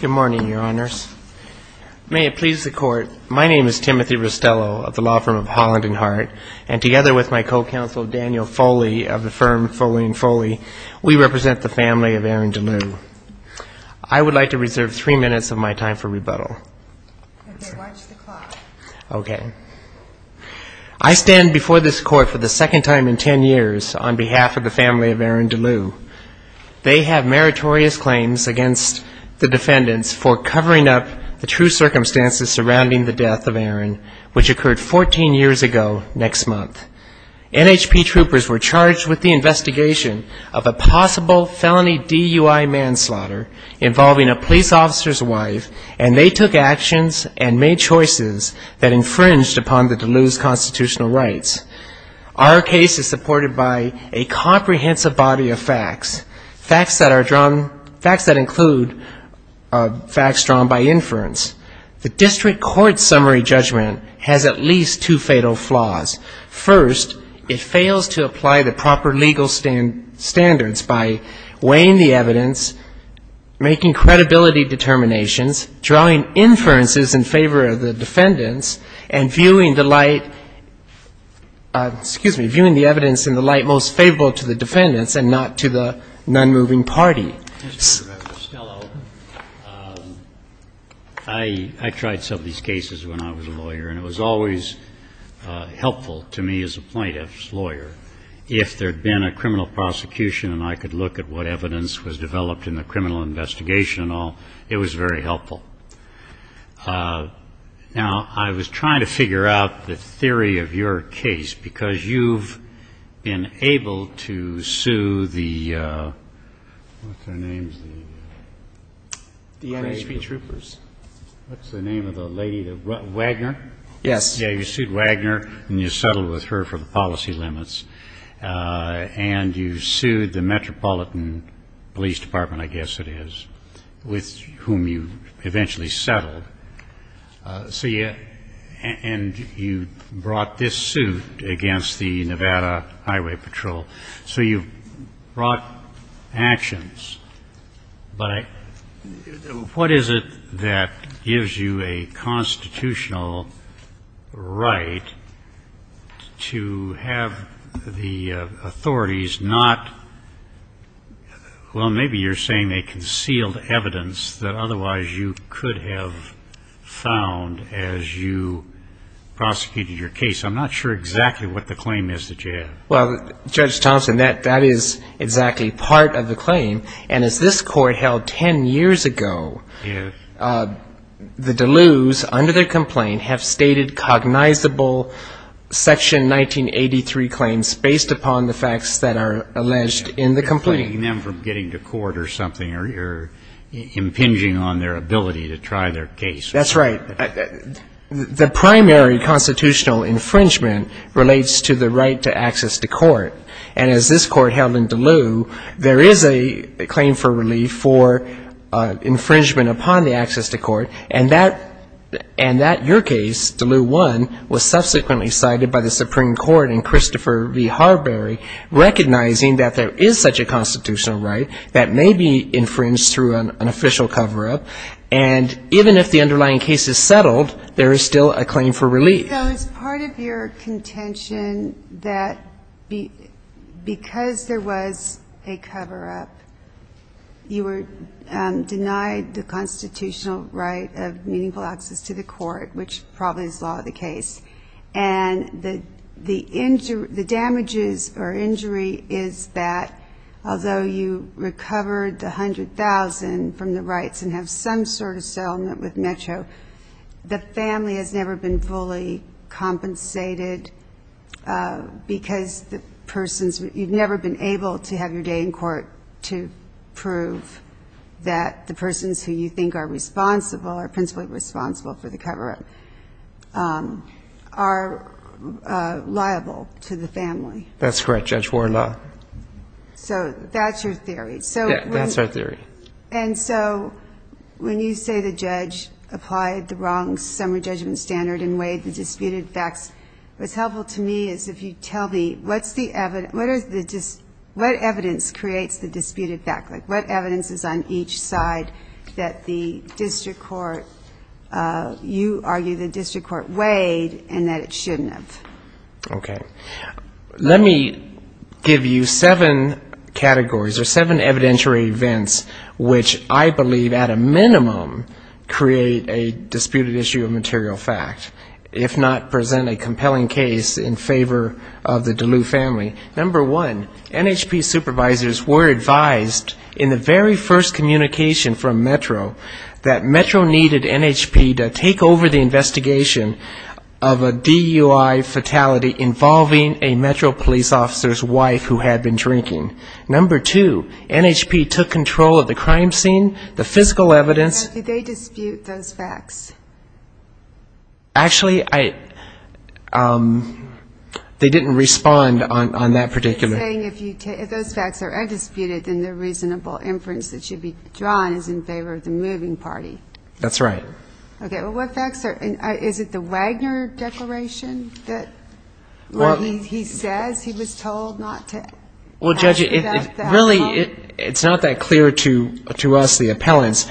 Good morning, Your Honors. May it please the Court, my name is Timothy Rustello of the law firm of Holland and Hart, and together with my co-counsel Daniel Foley of the firm Foley & Foley, we represent the family of Aaron DeLew. I would like to reserve three for the second time in 10 years on behalf of the family of Aaron DeLew. They have meritorious claims against the defendants for covering up the true circumstances surrounding the death of Aaron, which occurred 14 years ago next month. NHP troopers were charged with the investigation of a possible felony DUI manslaughter involving a police officer's wife, and they took actions and made choices that infringed upon the DeLew's constitutional rights. Our case is supported by a comprehensive body of facts, facts that are drawn, facts that include facts drawn by inference. The district court's summary judgment has at least two fatal flaws. First, it fails to apply the proper legal standards by weighing the evidence, making credibility determinations, drawing inferences in favor of the defendants, and viewing the light – excuse me – viewing the evidence in the light most favorable to the defendants and not to the nonmoving party. Mr. Chief Justice, I tried some of these cases when I was a lawyer, and it was always helpful to me as a plaintiff's lawyer if there had been a criminal prosecution and I could look at what evidence was developed in the criminal investigation and all. It was very helpful. Now, I was trying to figure out the theory of your case because you've been able to sue the – what's their name? The NHP troopers. What's the name of the lady? Wagner? Yes. Yeah, you sued Wagner, and you settled with her for the policy limits. And you sued the with whom you eventually settled. So you – and you brought this suit against the Nevada Highway Patrol. So you brought actions. But what is it that gives you a constitutional right to have the authorities not – well, maybe you're saying they concealed evidence that otherwise you could have found as you prosecuted your case. I'm not sure exactly what the claim is that you have. Well, Judge Thompson, that is exactly part of the claim. And as this Court held ten years ago, the Dulues, under their complaint, have stated cognizable Section 19A of the Criminal Code, Section 183 claims based upon the facts that are alleged in the complaint. You're deflating them from getting to court or something. You're impinging on their ability to try their case. That's right. The primary constitutional infringement relates to the right to access to court. And as this Court held in Dulu, there is a claim for relief for infringement upon the access to court. And that – and that – your case, Dulu 1, was subsequently cited by the Supreme Court in Christopher v. Harberry, recognizing that there is such a constitutional right that may be infringed through an official cover-up. And even if the underlying case is settled, there is still a claim for relief. So it's part of your contention that because there was a cover-up, you were denied the right to access court. And the – the – the damages or injury is that although you recovered the $100,000 from the rights and have some sort of settlement with METCO, the family has never been fully compensated because the person's – you've never been able to have your day in court to prove that the persons who you think are responsible or principally responsible for the cover-up are liable to the family. That's correct, Judge. We're not. So that's your theory. So when you say the judge applied the wrong summary judgment standard and weighed the disputed facts, what's helpful to me is if you tell me what's the – what is the – what evidence creates the disputed fact, like what evidence is on each side that the district court – you argue the district court weighed and that it shouldn't have. Okay. Let me give you seven categories or seven evidentiary events which I believe at a minimum create a disputed issue of material fact, if not present a compelling case in communication from METRO, that METRO needed NHP to take over the investigation of a DUI fatality involving a METRO police officer's wife who had been drinking. Number two, NHP took control of the crime scene, the physical evidence – Did they dispute those facts? Actually, I – they didn't respond on that particular – So you're saying if you – if those facts are undisputed, then the reasonable inference that should be drawn is in favor of the moving party. That's right. Okay. Well, what facts are – is it the Wagner declaration that – where he says he was told not to – Well, Judge, it really – it's not that clear to us, the appellants.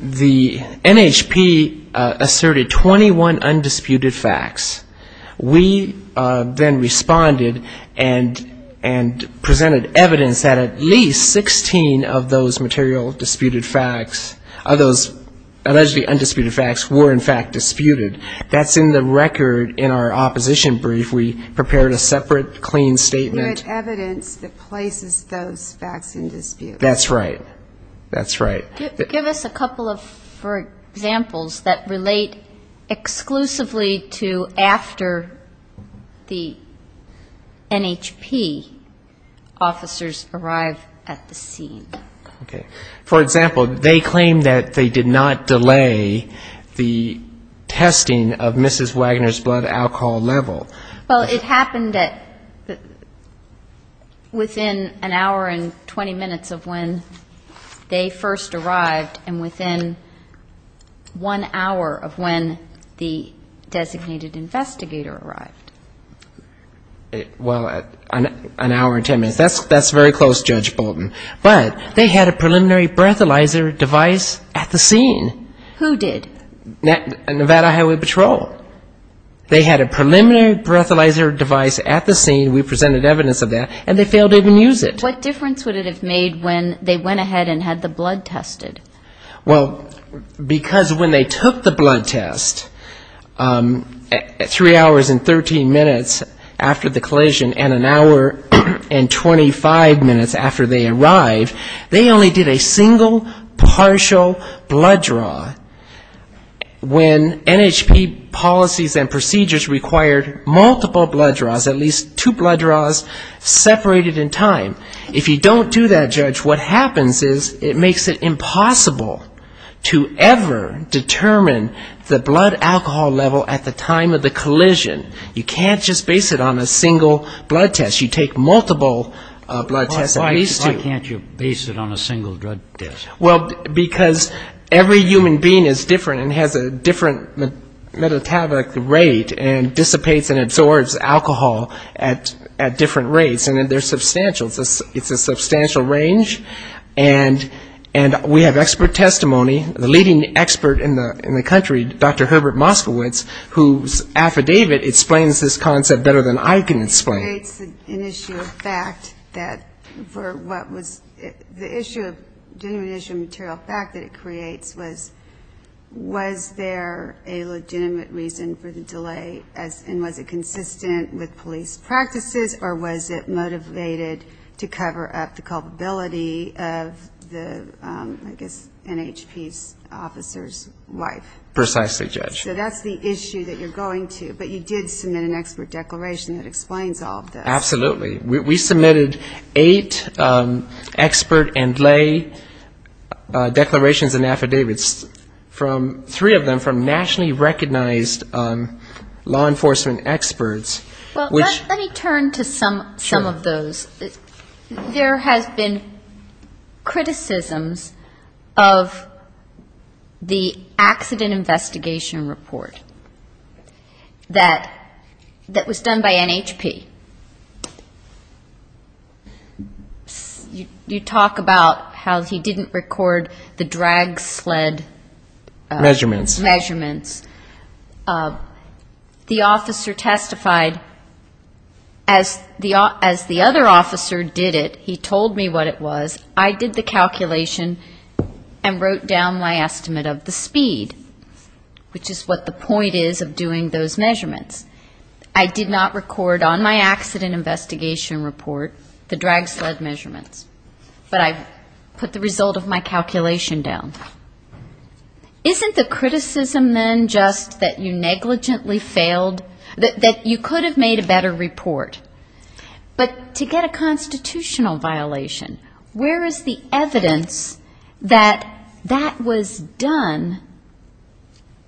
The NHP asserted 21 undisputed facts. We then responded and presented evidence that at least 16 of those material disputed facts – of those allegedly undisputed facts were in fact disputed. That's in the record in our opposition brief. We prepared a separate, clean statement. You had evidence that places those facts in dispute. That's right. That's right. Give us a couple of examples that relate exclusively to after the NHP officers arrive at the scene. For example, they claim that they did not delay the testing of Mrs. Wagner's blood alcohol level. Well, it happened at – within an hour and 20 minutes of when they first arrived. And within one hour of when the designated investigator arrived. Well, an hour and 10 minutes. That's very close, Judge Bolton. But they had a preliminary breathalyzer device at the scene. Who did? Nevada Highway Patrol. They had a preliminary breathalyzer device at the scene. We presented evidence of that. And they failed to even use it. What difference would it have made when they went ahead and had the blood tested? Well, because when they took the blood test, three hours and 13 minutes after the collision and an hour and 25 minutes after they arrived, they only did a single partial blood draw when NHP policies and procedures required multiple blood draws, at least two blood draws separated in time. If you don't do that, Judge, what happens is it makes it impossible to ever determine the blood alcohol level at the time of the collision. You can't just base it on a single blood test. You take multiple blood tests, at least two. Why can't you base it on a single blood test? Well, because every human being is different and has a different metabolic rate and dissipates and absorbs alcohol at different rates. And they're substantial. It's a substantial range. And we have expert testimony, the leading expert in the country, Dr. Herbert Moskowitz, whose affidavit explains this concept better than I can explain it. It creates an issue of fact that for what was the issue of genuine issue of material fact that it creates was, was there a legitimate reason for the delay and was it consistent with police practices or was it motivated to cover up the culpability of the, I guess, NHP's officer's wife? Precisely, Judge. So that's the issue that you're going to. But you did submit an expert declaration that explains all of this. Absolutely. We submitted eight expert and lay declarations and affidavits, three of them from nationally recognized law enforcement experts, which Well, let me turn to some of those. There has been criticisms of the accident investigation report that was done by NHP. You talk about how he didn't record the drag sled measurements. The officer testified, as the other officer did it, he told me what it was, I did the measurements, what the point is of doing those measurements. I did not record on my accident investigation report the drag sled measurements. But I put the result of my calculation down. Isn't the criticism then just that you negligently failed, that you could have made a better report? But to get a constitutional violation, where is the evidence that that was done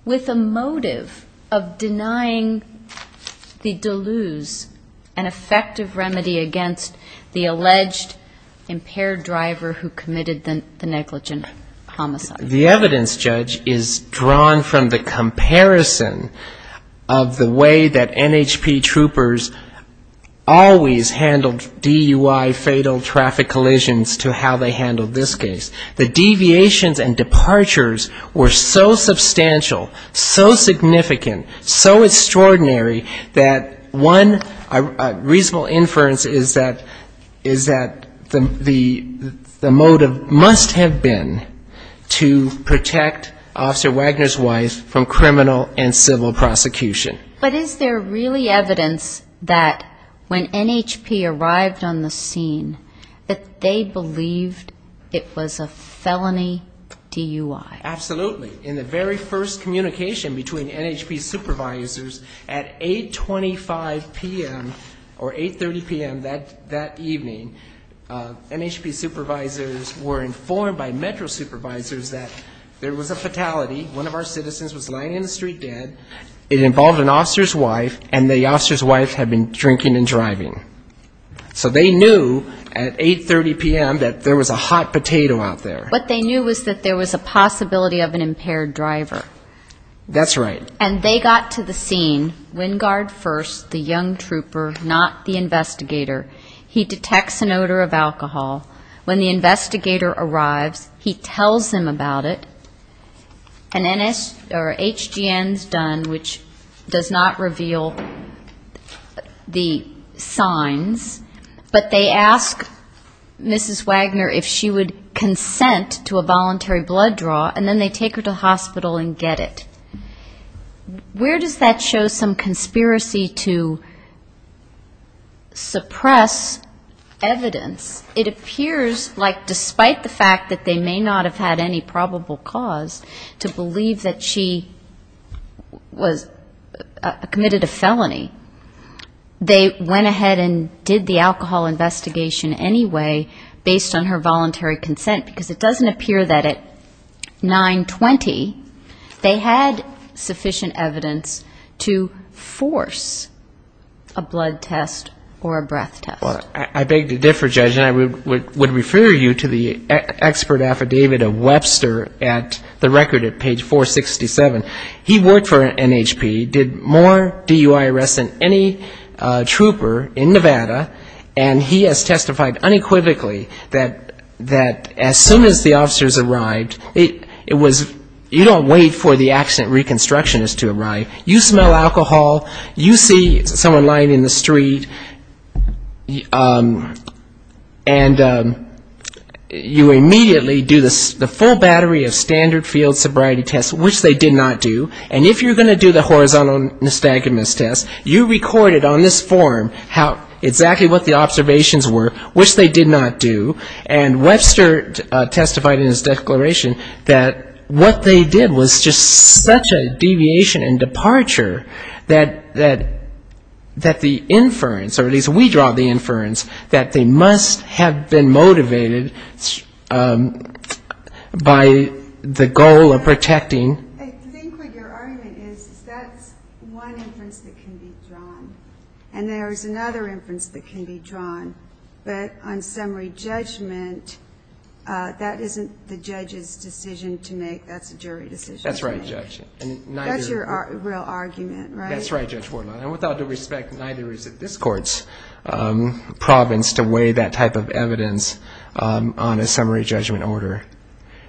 with the motive of denying the Deleuze an effective remedy against the alleged impaired driver who committed the negligent homicide? The evidence, Judge, is drawn from the comparison of the way that NHP troopers always handled DUI fatal traffic collisions to how they handled this case. The deviations and departures were so substantial, so significant, so extraordinary, that one reasonable inference is that the motive must have been to protect Officer Wagner's wife from criminal and civil prosecution. But is there really evidence that when NHP arrived on the scene, that they believed it was a felony DUI? Absolutely. In the very first communication between NHP supervisors at 8.25 p.m. or 8.30 p.m. that evening, NHP supervisors were informed by Metro supervisors that there was a fatality, one of our citizens was lying in the street dead, it involved an officer's wife, and the officer's wife had been drinking and driving. So they knew at 8.30 p.m. that there was a hot potato out there. What they knew was that there was a possibility of an impaired driver. That's right. And they got to the scene, Wingard first, the young trooper, not the investigator. He detects an odor of alcohol. When the investigator arrives, he tells them about it. An HGN is done, which does not reveal the signs, but they ask Mrs. Wagner if she would consent to a voluntary blood draw, and then they take her to the hospital and get it. Where does that show some conspiracy to suppress evidence? It appears like despite the fact that they may not have had any probable cause to believe that she committed a felony, they went ahead and did the alcohol investigation anyway based on her voluntary consent, because it doesn't appear that at 9.20 they had sufficient evidence to force a blood test or a breath test. I beg to differ, Judge, and I would refer you to the expert affidavit of Webster at the record at page 467. He worked for NHP, did more DUI arrests than any trooper in Nevada, and he has testified unequivocally that as soon as the officers arrived, you don't wait for the accident reconstructionist to arrive. You smell alcohol, you see someone lying in the street, and you immediately do the full battery of standard field sobriety tests, which they did not do, and if you're going to do the horizontal nystagmus test, you record it on this form exactly what the observations were, which they did not do, and Webster testified in his declaration that what they did was just such a deviation and departure that the inference, or at least we draw the inference, that they must have been motivated by the goal of protecting... I think what your argument is is that's one inference that can be drawn, and there's another inference that can be drawn, but on summary judgment, that isn't the judge's decision to make. That's a jury decision. That's right, Judge. That's your real argument, right? That's right, Judge Horton. And without due respect, neither is this Court's province to weigh that type of evidence on a summary judgment order.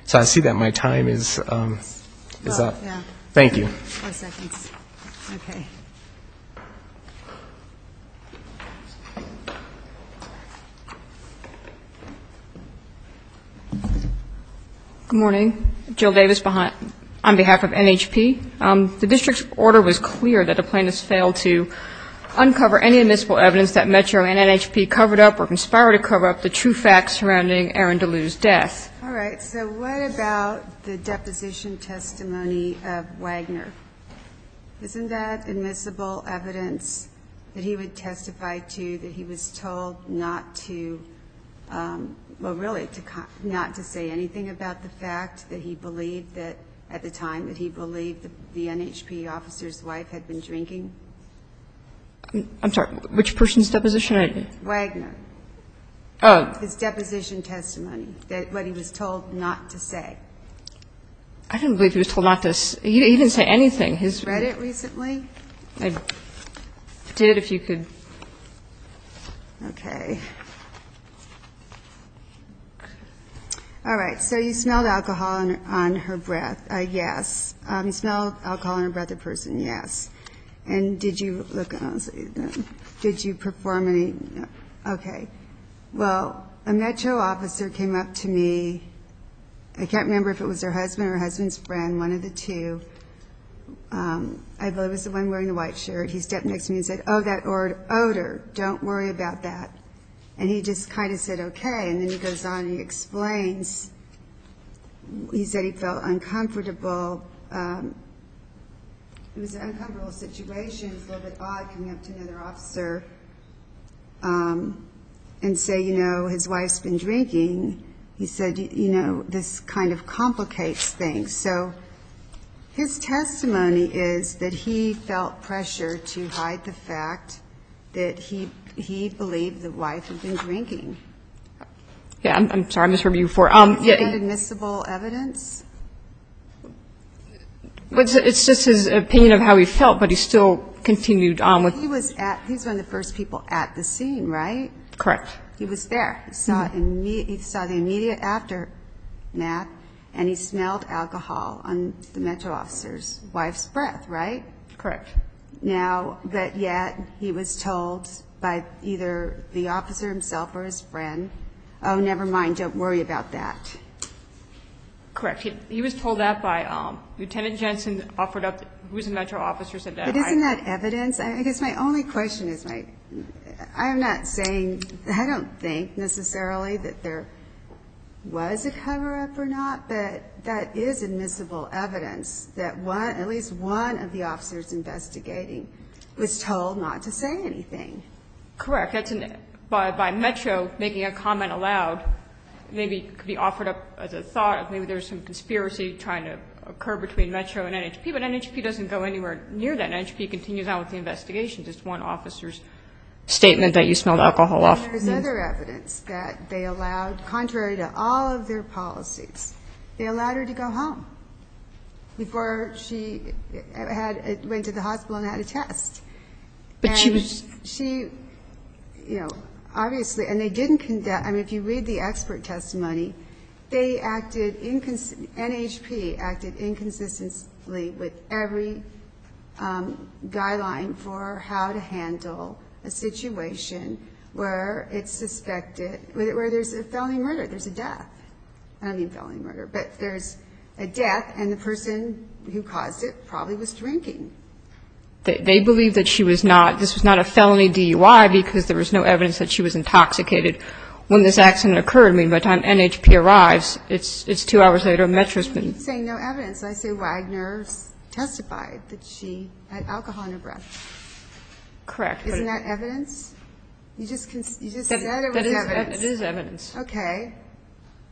So I see that my time is up. Thank you. Good morning. Jill Davis on behalf of NHP. The district's order was clear that the plaintiffs failed to uncover any admissible evidence that Metro and NHP covered up or conspired to cover up the true facts surrounding Aaron DeLue's death. All right. So what about the deposition testimony of Wagner? Isn't that admissible evidence that he would testify to, that he was told not to, well, really, not to say anything about the fact that he believed that, at the time that he believed that the NHP officer's wife had been drinking? I'm sorry. Which person's deposition? Wagner. His deposition testimony, what he was told not to say. I didn't believe he was told not to say. He didn't say anything. Have you read it recently? I did, if you could. Okay. All right. So you smelled alcohol on her breath, yes. You smelled alcohol on her breath, the person, yes. And did you look, did you perform any, okay. Well, a Metro officer came up to me, I can't remember if it was her husband or her husband's friend, one of the two. I believe it was the one wearing the white shirt. He stepped next to me and said, oh, that odor, don't worry about that. And he just kind of said, okay. And then he goes on and he explains. He said he felt uncomfortable. It was an uncomfortable situation. It was a little bit odd coming up to another officer and say, you know, his wife's been drinking. He said, you know, this kind of complicates things. So his testimony is that he felt pressure to hide the fact that he believed the wife had been drinking. Yeah, I'm sorry, I misheard you before. It's just his opinion of how he felt, but he still continued on with it. Well, he was at, he was one of the first people at the scene, right? Correct. He was there. He saw the immediate aftermath and he smelled alcohol on the Metro officer's wife's breath, right? Correct. Now, but yet he was told by either the officer himself or his friend, oh, never mind, don't worry about that. Correct. He was told that by Lieutenant Jensen offered up, who was a Metro officer said that. But isn't that evidence? I guess my only question is my, I'm not saying, I don't think necessarily that there was a cover up or not, but that is admissible evidence that one, at least one of the officers investigating was told not to say anything. Correct. That's an, by Metro making a comment aloud, maybe it could be offered up as a thought of maybe there's some conspiracy trying to occur between Metro and NHP, but NHP doesn't go anywhere near that. And NHP continues on with the investigation, just one officer's statement that you smelled alcohol off. There's other evidence that they allowed, contrary to all of their policies, they allowed her to go home before she had, went to the hospital and had a test. And she, you know, obviously, and they didn't conduct, I mean, if you read the expert testimony, they acted, NHP acted inconsistently with every guideline for how to handle a situation where it's suspected, where there's a felony murder, there's a death. I don't mean felony murder, but there's a death and the person who caused it probably was drinking. They believe that she was not, this was not a felony DUI because there was no evidence that she was intoxicated when this accident occurred. I mean, by the time NHP arrives, it's two hours later and Metro's been. You're saying no evidence. I say Wagner testified that she had alcohol in her breath. Correct. Isn't that evidence? You just said it was evidence. That is evidence. Okay.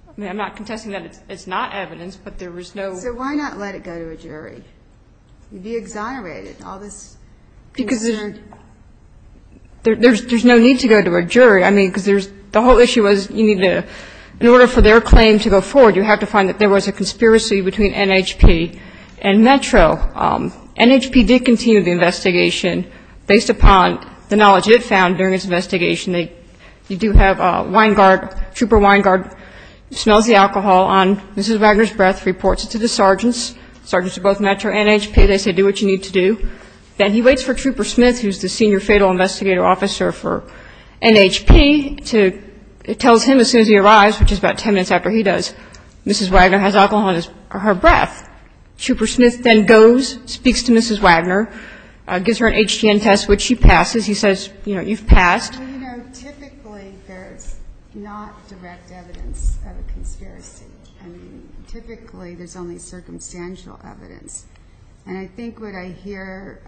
I mean, I'm not contesting that it's not evidence, but there was no. So why not let it go to a jury? You'd be exonerated in all this. Because there's no need to go to a jury. I mean, because there's, the whole issue was you needed to, in order for their claim to go forward, you have to find that there was a conspiracy between NHP and Metro. NHP did continue the investigation based upon the knowledge it found during its investigation. They do have a wine guard, trooper wine guard, who smells the alcohol on Mrs. Wagner's breath, reports it to the sergeants. Sergeants at both Metro and NHP, they say, do what you need to do. Then he waits for Trooper Smith, who's the senior fatal investigator officer for NHP to, tells him as soon as he arrives, which is about ten minutes after he does, Mrs. Wagner has alcohol on her breath. Trooper Smith then goes, speaks to Mrs. Wagner, gives her an HGN test, which she passes. He says, you know, you've passed. Well, you know, typically there's not direct evidence of a conspiracy. I mean, typically there's only circumstantial evidence. And I think what I hear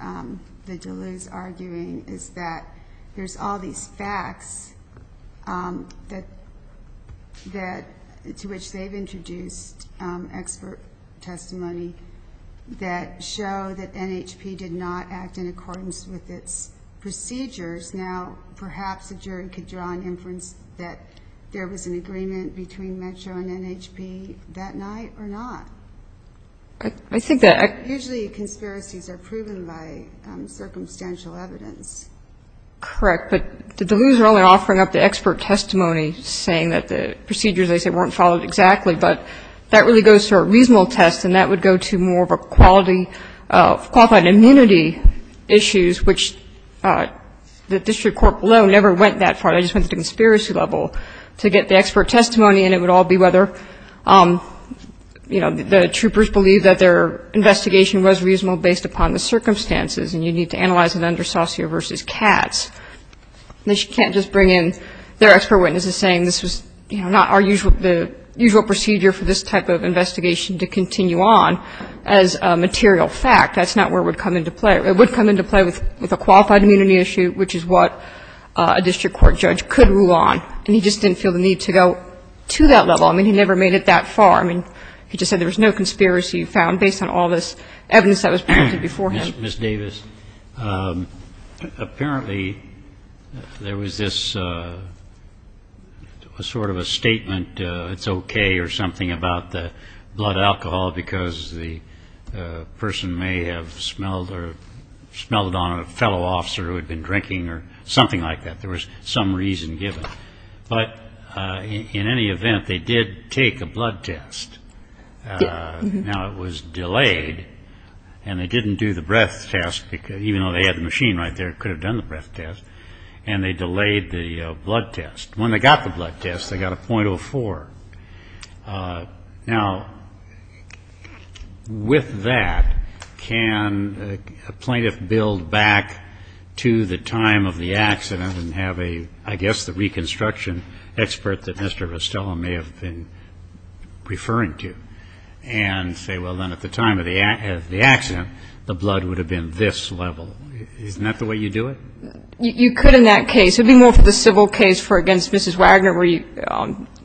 the Deleuze arguing is that there's all these facts that, to which they've introduced expert testimony that show that NHP did not act in accordance with its procedures. Now, perhaps the jury could draw an inference that there was an agreement between Metro and NHP that night or not. Usually conspiracies are proven by circumstantial evidence. Correct, but the Deleuze are only offering up the expert testimony, saying that the procedures, they say, weren't followed exactly. But that really goes to a reasonable test, and that would go to more of a quality of qualified immunity issues, which the district court below never went that far. They just went to the conspiracy level to get the expert testimony. And it would all be whether, you know, the troopers believe that their investigation was reasonable based upon the circumstances, and you need to analyze it under Saucier v. Katz. They can't just bring in their expert witnesses saying this was, you know, not our usual procedure for this type of investigation to continue on as a material fact. That's not where it would come into play. It would come into play with a qualified immunity issue, which is what a district court judge could rule on. And he just didn't feel the need to go to that level. I mean, he never made it that far. I mean, he just said there was no conspiracy found based on all this evidence that was presented before him. Ms. Davis, apparently there was this sort of a statement, it's okay or something, about the blood alcohol, because the person may have smelled on a fellow officer who had been drinking or something like that, there was some reason given. But in any event, they did take a blood test. Now, it was delayed, and they didn't do the breath test, even though they had the machine right there, could have done the breath test, and they delayed the blood test. When they got the blood test, they got a .04. Now, with that, can a plaintiff build back to the time of the accident and have a, I guess, the reconstruction expert that Mr. Vestella may have been referring to, and say, well, then at the time of the accident, the blood would have been this level. Isn't that the way you do it? You could in that case. It would be more for the civil case for against Mrs. Wagner,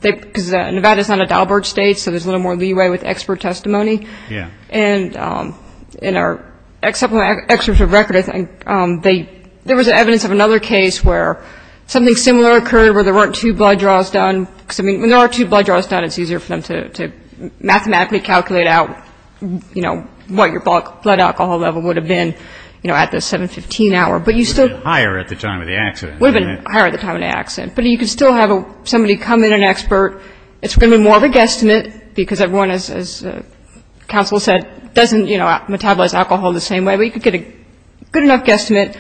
because Nevada is not a Dahlberg state, so there's a little more leeway with expert testimony. And in our excerpt from the record, I think there was evidence of another case where something similar occurred where there weren't two blood draws done, because when there are two blood draws done, it's easier for them to mathematically calculate out, you know, what your blood alcohol level would have been, you know, at the 715 hour. It would have been higher at the time of the accident. It would have been higher at the time of the accident, but you could still have somebody come in, an expert. It's going to be more of a guesstimate, because everyone, as counsel said, doesn't, you know, metabolize alcohol the same way, but you could get a good enough guesstimate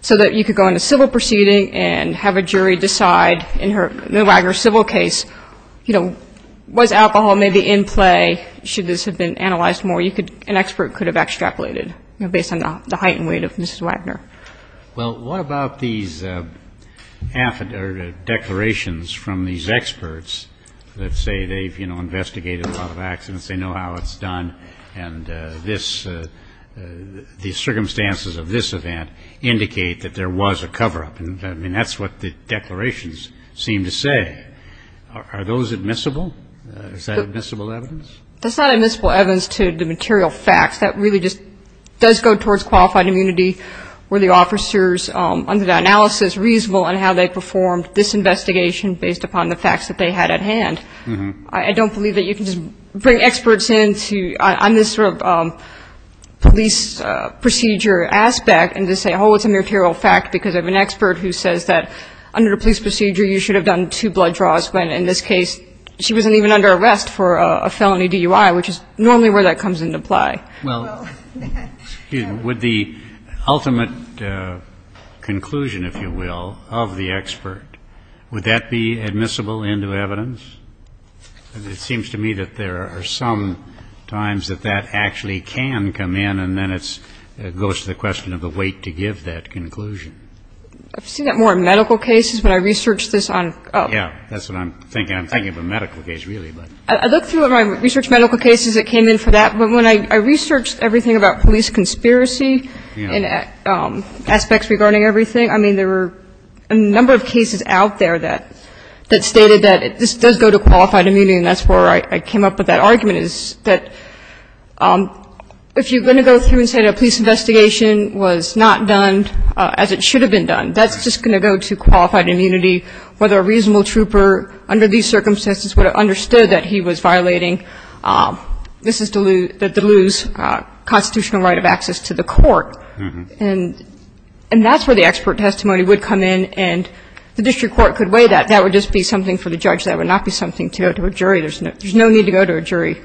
so that you could go into civil proceeding and have a jury decide in the Wagner civil case, you know, was alcohol maybe in play, should this have been analyzed more, an expert could have extrapolated based on the height and weight of Mrs. Wagner. Well, what about these declarations from these experts that say they've, you know, investigated a lot of accidents, they know how it's done, and this, the circumstances of this event indicate that there was a cover-up. I mean, that's what the declarations seem to say. Are those admissible? Is that admissible evidence? That's not admissible evidence to the material facts. That really just does go towards qualified immunity. Were the officers under the analysis reasonable in how they performed this investigation based upon the facts that they had at hand? I don't believe that you can just bring experts in on this sort of police procedure aspect and just say, oh, it's a material fact because of an expert who says that under the police procedure, you should have done two blood draws, when in this case she wasn't even under arrest for a felony DUI, which is normally where that comes into play. Well, would the ultimate conclusion, if you will, of the expert, would that be admissible into evidence? It seems to me that there are some times that that actually can come in, and then it goes to the question of the weight to give that conclusion. I've seen that more in medical cases. When I researched this on ---- Yeah. That's what I'm thinking. I'm thinking of a medical case, really. I looked through my research medical cases that came in for that. But when I researched everything about police conspiracy and aspects regarding everything, I mean, there were a number of cases out there that stated that this does go to qualified immunity, and that's where I came up with that argument, is that if you're going to go through and say a police investigation was not done as it should have been done, that's just going to go to qualified immunity, whether a reasonable trooper under these circumstances would have understood that he was violating the Duluth's constitutional right of access to the court. And that's where the expert testimony would come in, and the district court could weigh that. That would just be something for the judge. That would not be something to go to a jury. There's no need to go to a jury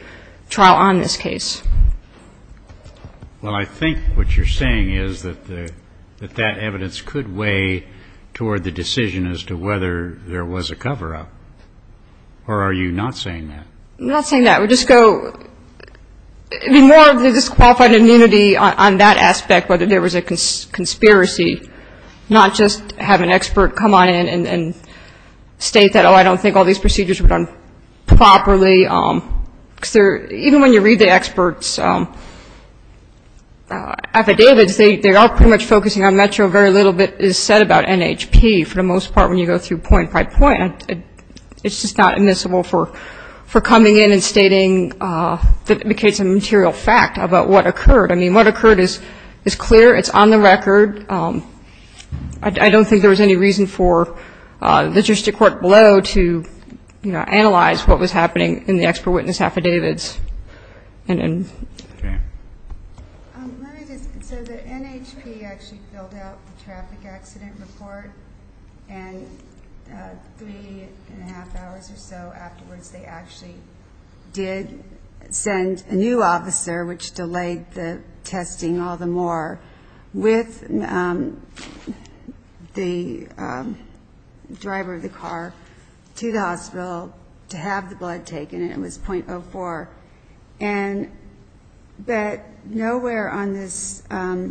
trial on this case. Well, I think what you're saying is that that evidence could weigh toward the decision as to whether there was a cover-up, or are you not saying that? I'm not saying that. We just go ---- I mean, more of the disqualified immunity on that aspect, whether there was a conspiracy, not just have an expert come on in and state that, oh, I don't think all these procedures were done properly. Even when you read the experts' affidavits, they are pretty much focusing on Metro. Very little is said about NHP, for the most part, when you go through point by point. It's just not admissible for coming in and stating that indicates a material fact about what occurred. I mean, what occurred is clear. It's on the record. I don't think there was any reason for the district court below to, you know, analyze what was happening in the expert witness affidavits. And then ---- Okay. Let me just ---- so the NHP actually filled out the traffic accident report, and three and a half hours or so afterwards, they actually did send a new officer, which delayed the testing all the more, with the driver of the car to the hospital to have the blood taken, and it was .04. And but nowhere on this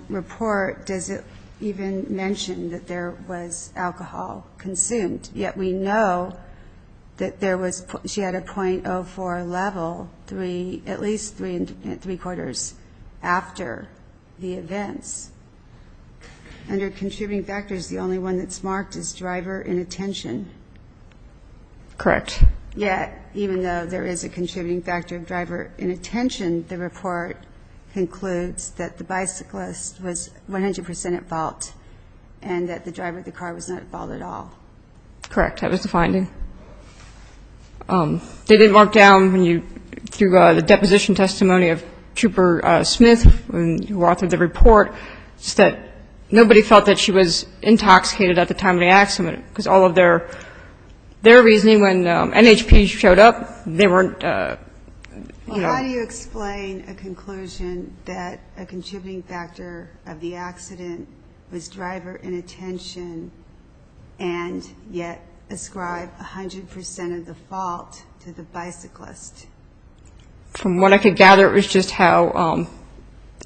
report does it even mention that there was alcohol consumed, yet we know that there was ---- she had a .04 level, at least three quarters after the events. Under contributing factors, the only one that's marked is driver inattention. Correct. Yet, even though there is a contributing factor of driver inattention, the report concludes that the bicyclist was 100% at fault and that the driver of the car was not at fault at all. Correct. That was the finding. They didn't mark down when you ---- through the deposition testimony of Trooper Smith, who authored the report, that nobody felt that she was intoxicated at the time of the accident, because all of their reasoning when NHP showed up, they weren't, you know. How do you explain a conclusion that a contributing factor of the accident was driver inattention and yet ascribe 100% of the fault to the bicyclist? From what I could gather, it was just how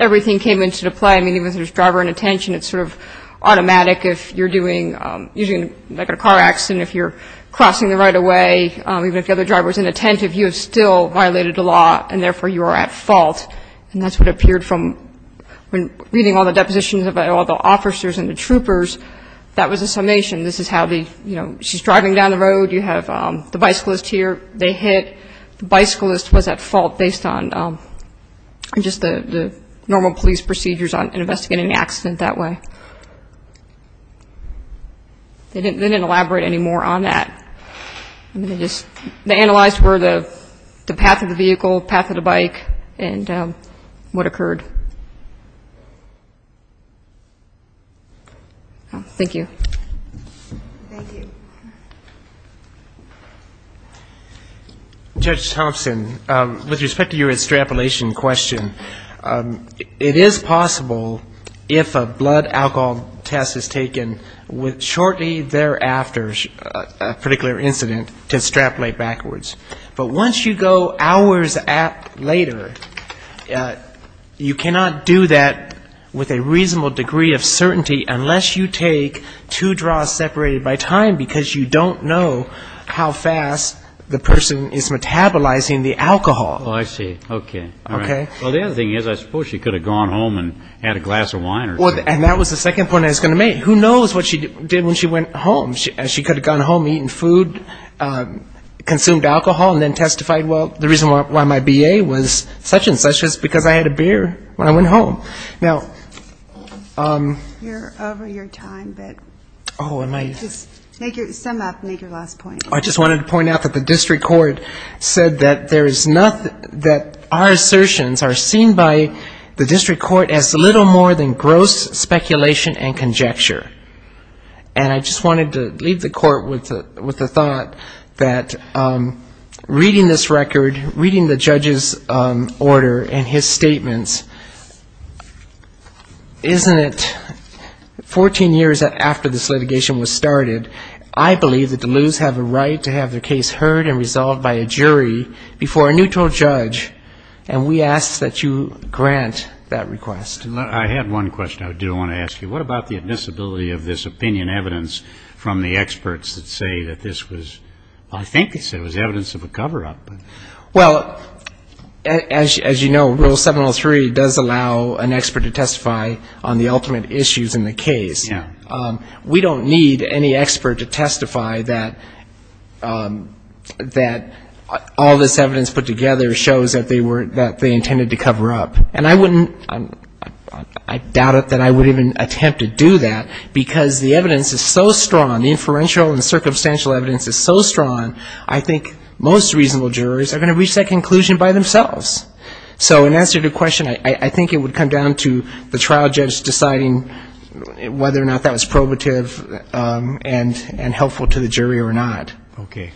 everything came into play. I mean, even if there's driver inattention, it's sort of automatic. If you're doing ---- like a car accident, if you're crossing the right-of-way, even if the other driver's inattentive, you have still violated the law, and therefore you are at fault. And that's what appeared from reading all the depositions of all the officers and the troopers, that was a summation. This is how the, you know, she's driving down the road. You have the bicyclist here. They hit. The bicyclist was at fault based on just the normal police procedures in investigating an accident that way. They didn't elaborate any more on that. I'm going to just analyze where the path of the vehicle, path of the bike, and what occurred. Thank you. Thank you. Judge Thompson, with respect to your extrapolation question, it is possible if a blood alcohol test is taken shortly thereafter, a particular incident, to extrapolate backwards. But once you go hours later, you cannot do that with a reasonable degree of certainty unless you take two draws separated by time, because you don't know how fast the person is metabolizing the alcohol. Oh, I see. Okay. Okay. Well, the other thing is I suppose she could have gone home and had a glass of wine or something. And that was the second point I was going to make. Who knows what she did when she went home? She could have gone home, eaten food, consumed alcohol, and then testified, well, the reason why my B.A. was such and such is because I had a beer when I went home. Now ‑‑ You're over your time, but just sum up and make your last point. I just wanted to point out that the district court said that there is nothing that our assertions are seen by the district court as little more than gross speculation and conjecture. And I just wanted to leave the court with the thought that reading this record, reading the judge's order and his statements, isn't it 14 years after this litigation was started, I believe the Duluths have a right to have their case heard and resolved by a jury before a neutral judge, and we ask that you grant that request. I had one question I do want to ask you. What about the admissibility of this opinion evidence from the experts that say that this was ‑‑ I think they said it was evidence of a coverup. Well, as you know, Rule 703 does allow an expert to testify on the ultimate issues in the case. Yeah. We don't need any expert to testify that all this evidence put together shows that they intended to cover up. And I wouldn't ‑‑ I doubt that I would even attempt to do that, because the evidence is so strong, the inferential and circumstantial evidence is so strong, I think most reasonable jurors are going to reach that conclusion by themselves. So in answer to your question, I think it would come down to the trial judge deciding whether or not that was probative and helpful to the jury or not. Okay.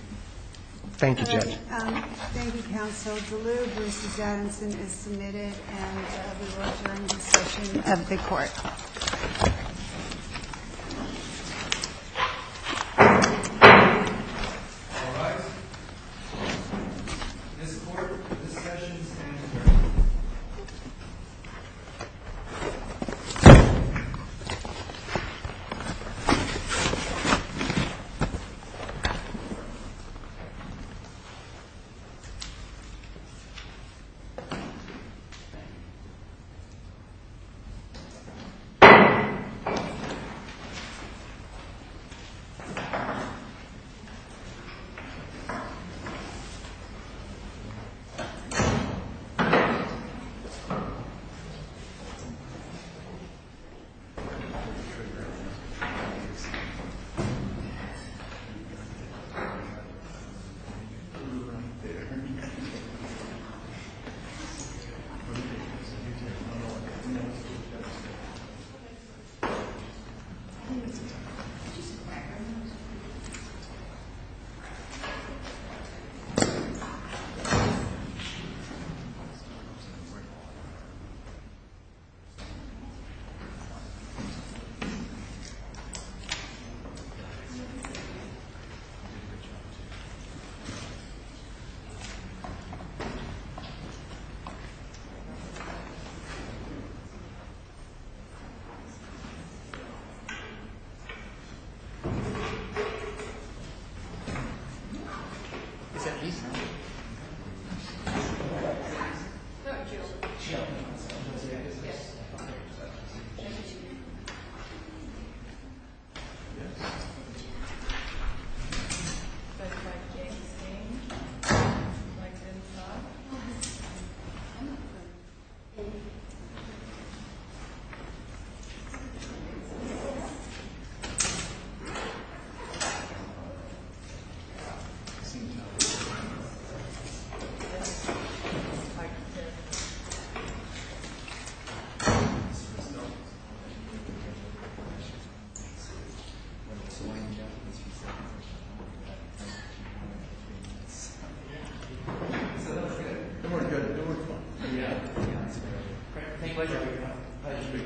Thank you, Judge. Thank you, Counsel. Duluth v. Adamson is submitted, and we will adjourn the session of the court. All right. This court discussion stands adjourned. Thank you. Thank you. Is that a yes or no? No. No. Good work. Good work. Good work. Yeah. Yeah. Great. Thank you. Thank you. I appreciate it. Thank you. Thanks. Thank you. Thank you.